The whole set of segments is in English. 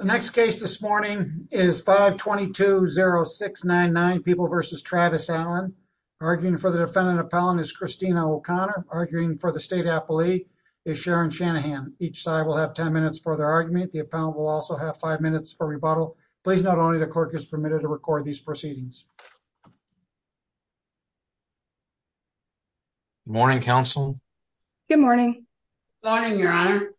The next case this morning is 522-0699, People v. Travis Allen. Arguing for the defendant appellant is Christina O'Connor. Arguing for the state appellee is Sharon Shanahan. Each side will have 10 minutes for their argument. The appellant will also have 5 minutes for rebuttal. Please note only the clerk is permitted to record these proceedings. Morning, counsel. Good morning. Morning, your honor.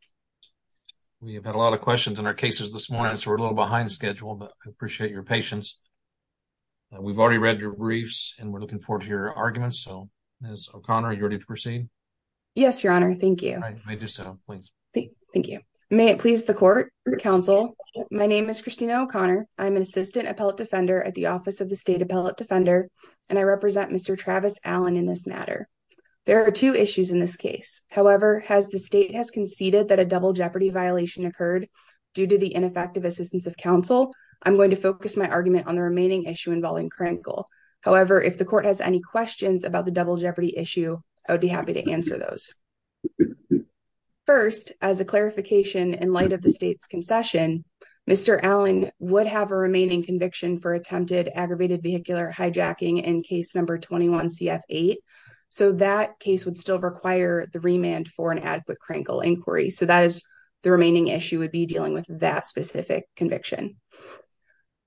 We have had a lot of questions in our cases this morning, so we're a little behind schedule, but I appreciate your patience. We've already read your briefs, and we're looking forward to your arguments. So, Ms. O'Connor, are you ready to proceed? Yes, your honor. Thank you. All right. You may do so, please. Thank you. May it please the court, counsel. My name is Christina O'Connor. I'm an assistant appellate defender at the Office of the State Appellate Defender, and I represent Mr. Travis Allen in this matter. There are two issues in this case. However, as the state has conceded that a double jeopardy violation occurred due to the ineffective assistance of counsel, I'm going to focus my argument on the remaining issue involving Krinkle. However, if the court has any questions about the double jeopardy issue, I would be happy to answer those. First, as a clarification, in light of the state's concession, Mr. Allen would have a remaining conviction for attempted aggravated vehicular hijacking in case number 21-CF-8. So, that case would still require the remand for an adequate Krinkle inquiry. So, the remaining issue would be dealing with that specific conviction.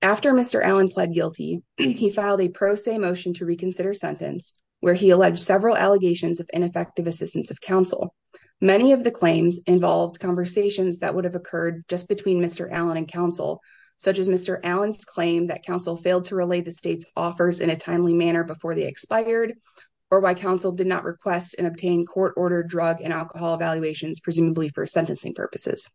After Mr. Allen pled guilty, he filed a pro se motion to reconsider sentence, where he alleged several allegations of ineffective assistance of counsel. Many of the claims involved conversations that would have occurred just between Mr. Allen and counsel, in a timely manner before they expired, or why counsel did not request and obtain court-ordered drug and alcohol evaluations, presumably for sentencing purposes.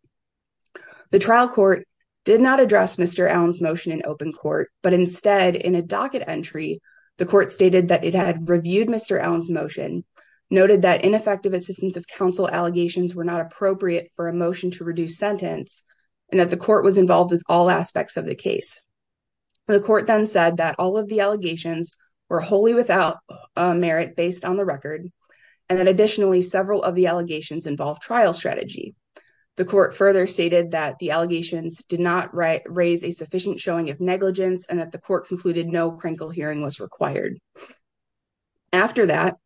The trial court did not address Mr. Allen's motion in open court, but instead, in a docket entry, the court stated that it had reviewed Mr. Allen's motion, noted that ineffective assistance of counsel allegations were not appropriate for a motion to reduce sentence, and that the court was involved with all aspects of the case. The court then said that all of the allegations were wholly without merit based on the record, and that additionally, several of the allegations involved trial strategy. The court further stated that the allegations did not raise a sufficient showing of negligence, and that the court concluded no Krinkle hearing was required. After that,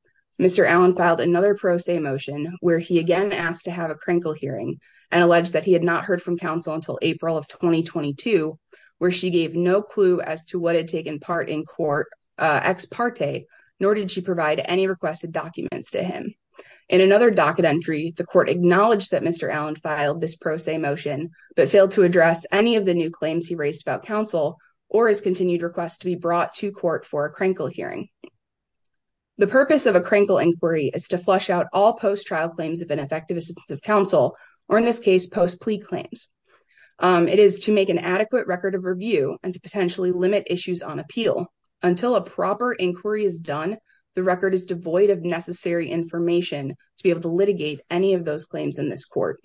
Mr. Allen filed another pro se motion, where he again asked to have a Krinkle hearing, and alleged that he had not heard from counsel until April of 2022, where she gave no clue as to what had taken part in court ex parte, nor did she provide any requested documents to him. In another docket entry, the court acknowledged that Mr. Allen filed this pro se motion, but failed to address any of the new claims he raised about counsel, or his continued request to be brought to court for a Krinkle hearing. The purpose of a Krinkle inquiry is to flush out all post-trial claims of ineffective assistance of counsel, or in this case, post-plea claims. It is to make an adequate record of review, and to potentially limit issues on appeal. Until a proper inquiry is done, the record is devoid of necessary information to be able to litigate any of those claims in this court.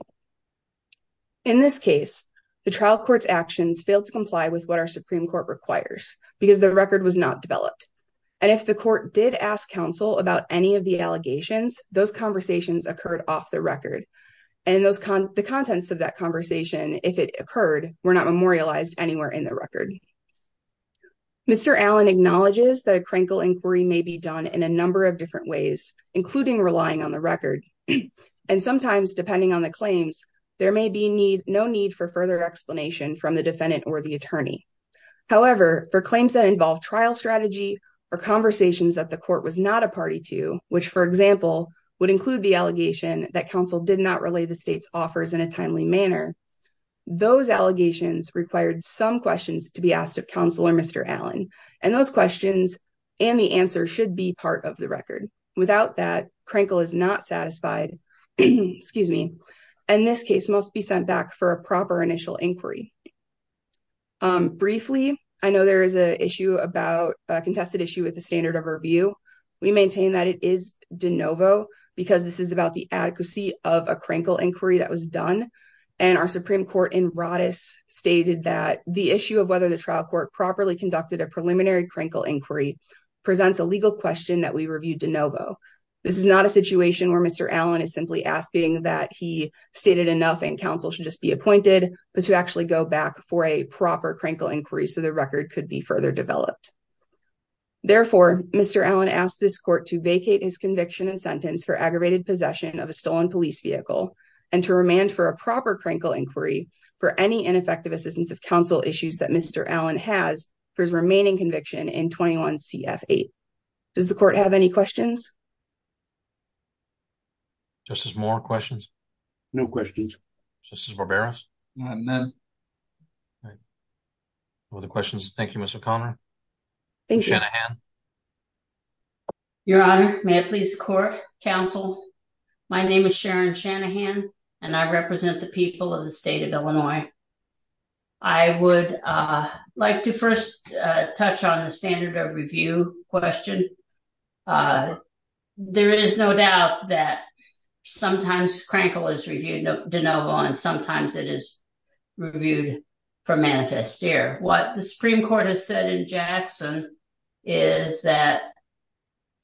In this case, the trial court's actions failed to comply with what our Supreme Court requires, because the record was not developed. And if the court did ask counsel about any of the allegations, those conversations occurred off the record. And the contents of that conversation, if it occurred, were not memorialized anywhere in the record. Mr. Allen acknowledges that a Krinkle inquiry may be done in a number of different ways, including relying on the record. And sometimes, depending on the claims, there may be no need for further explanation from the defendant or the attorney. However, for claims that involve trial strategy, or conversations that the court was not a party to, which, for example, would include the allegation that counsel did not relay the state's offers in a timely manner, those allegations required some questions to be asked of counsel or Mr. Allen. And those questions and the answer should be part of the record. Without that, Krinkle is not satisfied, excuse me, and this case must be sent back for a proper initial inquiry. Briefly, I know there is a contested issue with the standard of review. We maintain that it is de novo, because this is about the adequacy of a Krinkle inquiry that was done. And our Supreme Court in Rodis stated that the issue of whether the trial court properly conducted a preliminary Krinkle inquiry presents a legal question that we reviewed de novo. This is not a situation where Mr. Allen is simply asking that he stated enough and counsel should just be appointed, but to actually go back for a proper Krinkle inquiry so the record could be further developed. Therefore, Mr. Allen asked this court to vacate his conviction and sentence for aggravated possession of a stolen police vehicle and to remand for a proper Krinkle inquiry for any ineffective assistance of counsel issues that Mr. Allen has for his remaining conviction in 21 CF 8. Does the court have any questions? Justice Moore, questions? No questions. Justice Barberos? None. Other questions? Thank you, Mr. Conner. Thank you. Your Honor, may I please court counsel? My name is Sharon Shanahan and I represent the people of the state of Illinois. I would like to first touch on the standard of review question. There is no doubt that sometimes Krinkle is reviewed de novo and sometimes it is reviewed for manifest air. What the Supreme Court has said in Jackson is that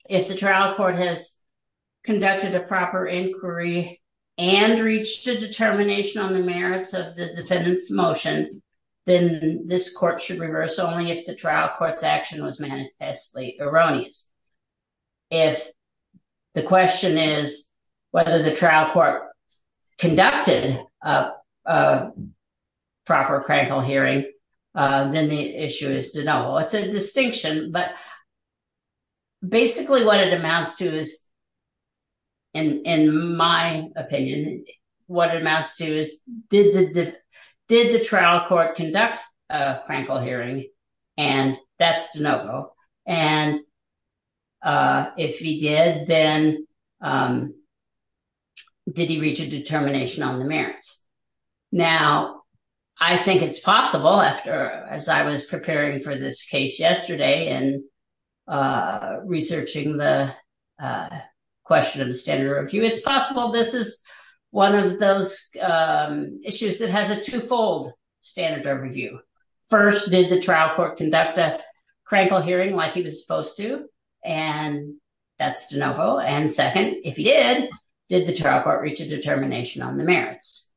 if the trial court has conducted a proper inquiry and reached a determination on the merits of the defendant's motion, then this court should reverse only if the trial court's action was manifestly erroneous. If the question is whether the trial court conducted a proper Krinkle hearing, then the issue is de novo. It's a distinction. But basically what it amounts to is, in my opinion, what it amounts to is, did the trial court conduct a Krinkle hearing? And that's de novo. And if he did, then did he reach a determination on the merits? Now, I think it's possible after, as I was preparing for this case yesterday and researching the question of the standard of review, it's possible this is one of those issues that has a twofold standard of review. First, did the trial court conduct a Krinkle hearing like he was supposed to? And that's de novo. And second, if he did, did the trial court reach a determination on the merits?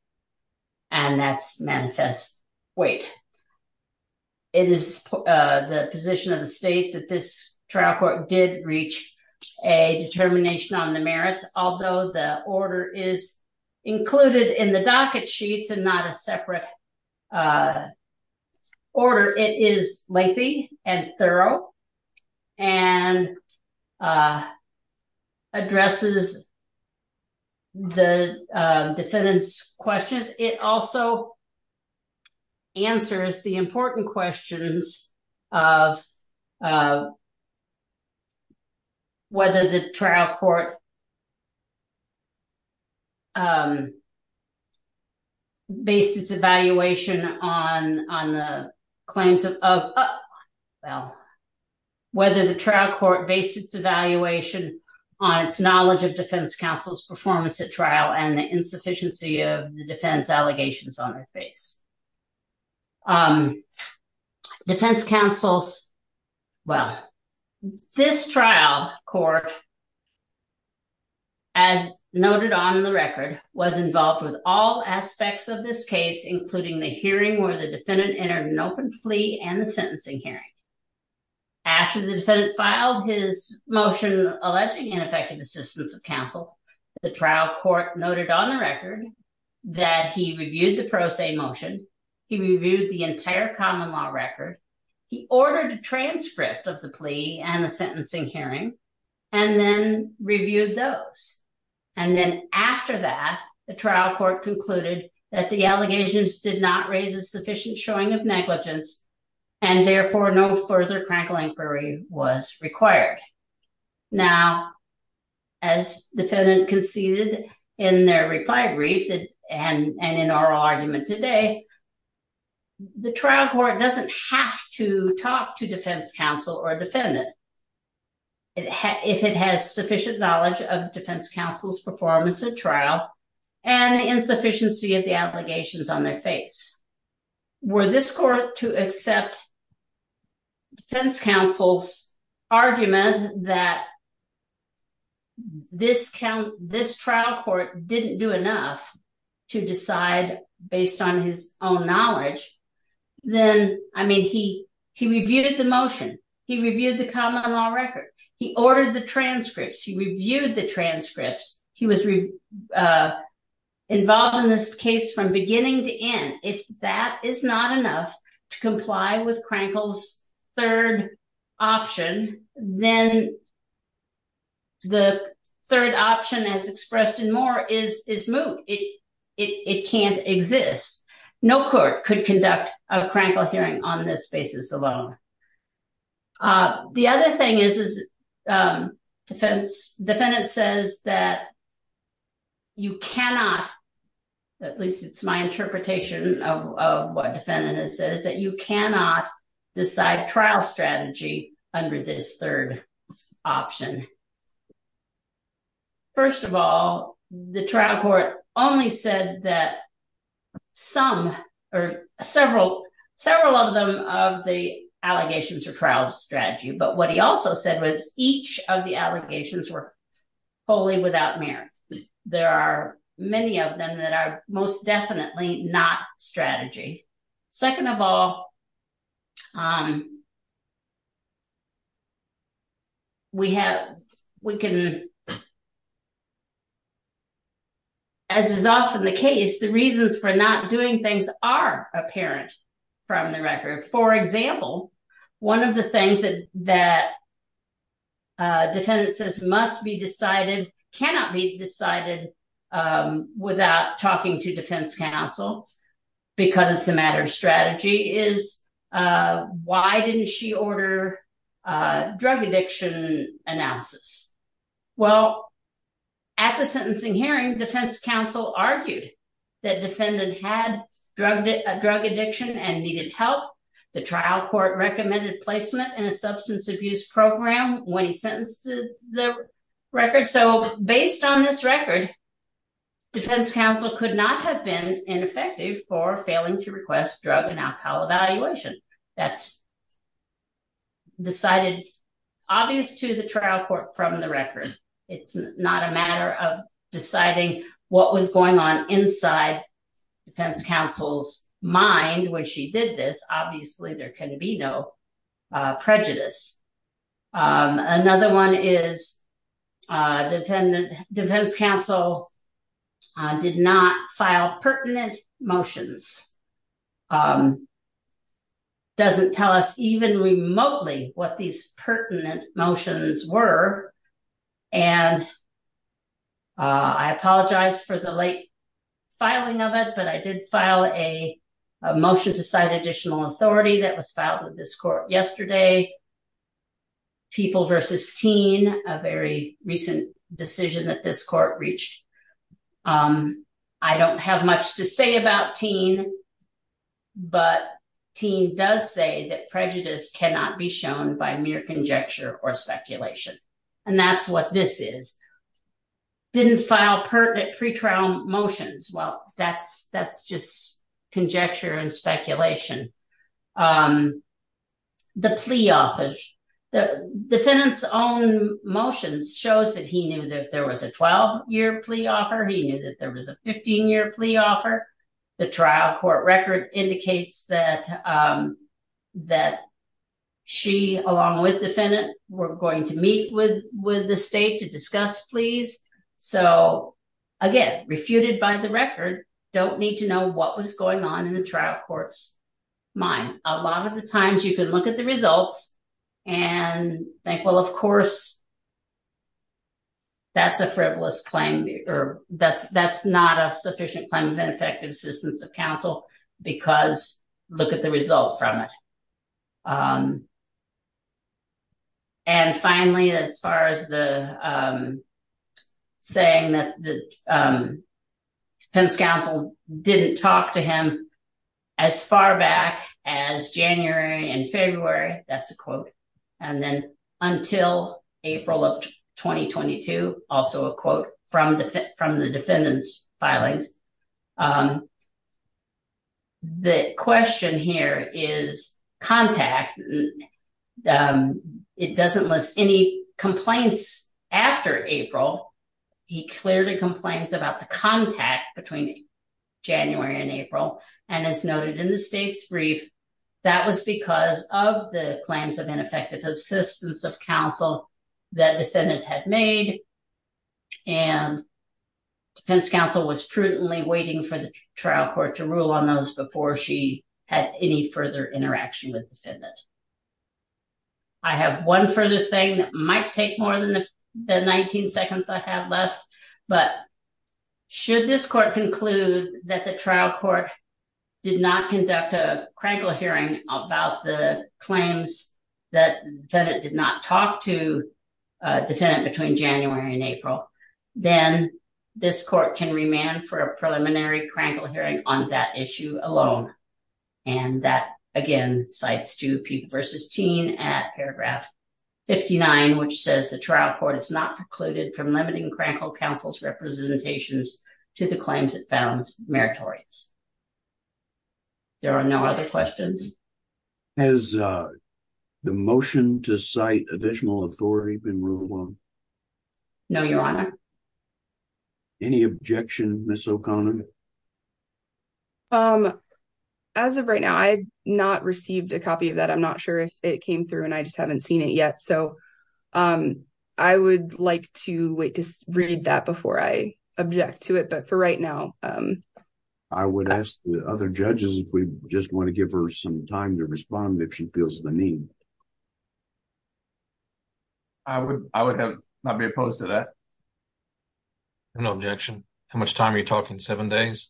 And that's manifest weight. It is the position of the state that this trial court did reach a determination on the merits, although the order is included in the docket sheets and not a separate order. It is lengthy and thorough and addresses the defendant's questions. It also answers the important questions of whether the trial court based its evaluation on the claims of, well, whether the trial court based its evaluation on its knowledge of defense counsel's performance at trial and the insufficiency of the defense allegations on their face. Defense counsel's, well, this trial court, as noted on the record, was involved with all aspects of this case, including the hearing where the defendant entered an open plea and the sentencing hearing. After the defendant filed his motion alleging ineffective assistance of counsel, the trial court noted on the record that he reviewed the pro se motion. He reviewed the entire common law record. He ordered a transcript of the plea and the sentencing hearing, and then reviewed those. And then after that, the trial court concluded that the allegations did not raise a sufficient showing of negligence and therefore no further crackling query was required. Now, as defendant conceded in their reply brief and in our argument today, the trial court doesn't have to talk to defense counsel or defendant if it has sufficient knowledge of defense counsel's performance at trial and the insufficiency of the allegations on their face. Were this court to accept defense counsel's argument that this trial court didn't do enough to decide based on his own knowledge, then, I mean, he reviewed the motion. He reviewed the common law record. He ordered the transcripts. He reviewed the transcripts. He was involved in this case from beginning to end. If that is not enough to comply with Crankle's third option, then the third option as expressed in Moore is moot. It can't exist. No court could conduct a Crankle hearing on this basis alone. The other thing is, defendant says that you cannot, at least it's my interpretation of what defendant has said, is that you cannot decide trial strategy under this third option. First of all, the trial court only said that several of them of the allegations are trial strategy, but what he also said was each of the allegations were wholly without merit. There are many of them that are most definitely not strategy. Second of all, as is often the case, the reasons for not doing things are apparent from the record. For example, one of the things that defendant says must be decided, cannot be decided without talking to defense counsel because it's a matter of strategy, is why didn't she order drug addiction analysis? Well, at the sentencing hearing, defense counsel argued that defendant had drug addiction and needed help. The trial court recommended placement in a substance abuse program when he sentenced the record. So based on this record, defense counsel could not have been ineffective for failing to request drug and alcohol evaluation. That's decided obvious to the trial court from the record. It's not a matter of deciding what was going on inside defense counsel's mind when she did this. Obviously, there can be no prejudice. Another one is defense counsel did not file pertinent motions. Doesn't tell us even remotely what these pertinent motions were. And I apologize for the late filing of it, but I did file a motion to cite additional authority that was filed with this court yesterday. People versus Teen, a very recent decision that this court reached. I don't have much to say about Teen, but Teen does say that prejudice cannot be shown by mere conjecture or speculation. And that's what this is. Didn't file pertinent pre-trial motions. Well, that's just conjecture and speculation. The plea office, the defendant's own motions shows that he knew that there was a 12-year plea offer. He knew that there was a 15-year plea offer. The trial court record indicates that she, along with the defendant, were going to meet with the state to discuss pleas. So again, refuted by the record, don't need to know what was going on in the trial courts. Mine, a lot of the times you can look at the results and think, well, of course, that's a frivolous claim, or that's not a sufficient claim of ineffective assistance of counsel because look at the result from it. And finally, as far as the saying that the defense counsel didn't talk to him as far back as January and February, that's a quote. And then until April of 2022, also a quote from the defendant's filings. The question here is contact. It doesn't list any complaints after April. between January and April. And as noted in the state's brief, that was because of the claims of ineffective assistance of counsel that defendant had made. And defense counsel was prudently waiting for the trial court to rule on those before she had any further interaction with defendant. I have one further thing that might take more than the 19 seconds I have left. But should this court conclude that the trial court did not conduct a Krankel hearing about the claims that defendant did not talk to defendant between January and April, then this court can remand for a preliminary Krankel hearing on that issue alone. And that, again, cites to Peep versus Teen at paragraph 59, which says the trial court is not precluded from limiting Krankel counsel's representations to the claims it found meritorious. There are no other questions. Has the motion to cite additional authority been ruled on? No, Your Honor. Any objection, Ms. O'Connor? As of right now, I've not received a copy of that. I'm not sure if it came through and I just haven't seen it yet. So I would like to wait to read that before I object to it. But for right now... I would ask the other judges if we just want to give her some time to respond if she feels the need. I would not be opposed to that. No objection. How much time are you talking? Seven days?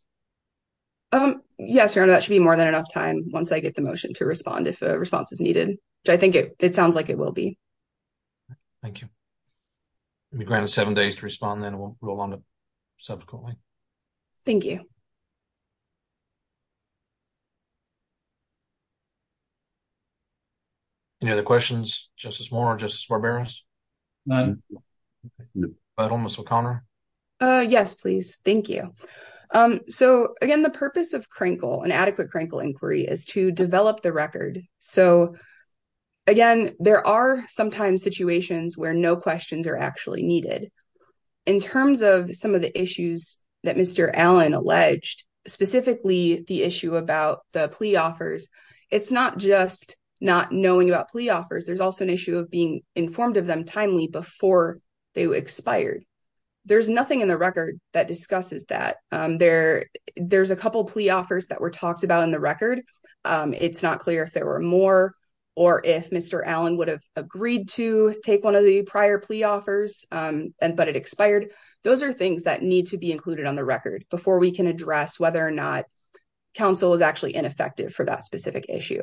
Yes, Your Honor, that should be more than enough time once I get the motion to respond if a response is needed, which I think it sounds like it will be. Thank you. You'll be granted seven days to respond, then we'll move on to subsequently. Thank you. Any other questions? Justice Moore or Justice Barberos? None. Final, Ms. O'Connor? Yes, please. Thank you. So again, the purpose of Crankle, an adequate Crankle inquiry, is to develop the record. So again, there are sometimes situations where no questions are actually needed. In terms of some of the issues that Mr. Allen alleged, specifically the issue about the plea offers, it's not just not knowing about plea offers. There's also an issue of being informed of them timely before they expired. There's nothing in the record that discusses that. There's a couple plea offers that were talked about in the record. It's not clear if there were more or if Mr. Allen would have agreed to take one of the prior plea offers, but it expired. Those are things that need to be included on the record before we can address whether or not counsel is actually ineffective for that specific issue.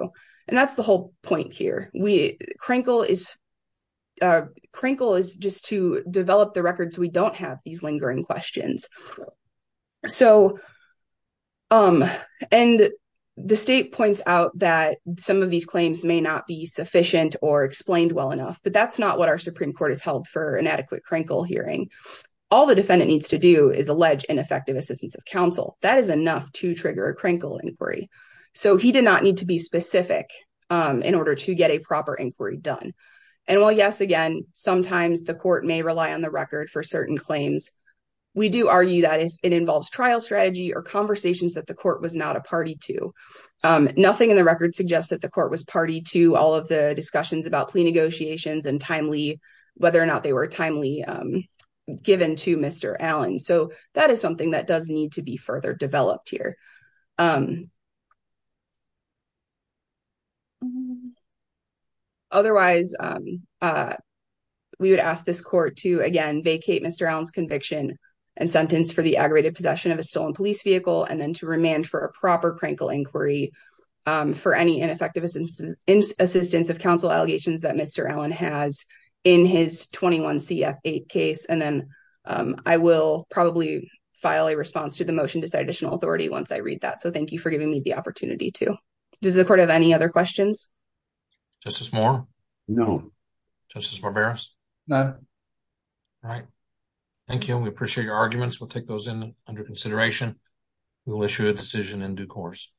And that's the whole point here. Crankle is just to develop the record so we don't have these lingering questions. And the state points out that some of these claims may not be sufficient or explained well enough, but that's not what our Supreme Court has held for an adequate Crankle hearing. All the defendant needs to do is allege ineffective assistance of counsel. That is enough to trigger a Crankle inquiry. So he did not need to be specific in order to get a proper inquiry done. And while yes, again, sometimes the court may rely on the record for certain claims, we do argue that if it involves trial strategy or conversations that the court was not a party to, nothing in the record suggests that the court was party to all of the discussions about plea negotiations and whether or not they were timely given to Mr. Allen. So that is something that does need to be further developed here. Otherwise, we would ask this court to, again, vacate Mr. Allen's conviction and sentence for the aggravated possession of a stolen police vehicle and then to remand for a proper Crankle inquiry for any ineffective assistance of counsel allegations that Mr. Allen has in his 21 CF8 case. And then I will probably file a response to the motion to cite additional authority once I read that. So thank you for giving me the opportunity to. Does the court have any other questions? Justice Moore? No. Justice Barberos? None. All right. Thank you. We appreciate your arguments. We'll take those in under consideration. We will issue a decision in due course.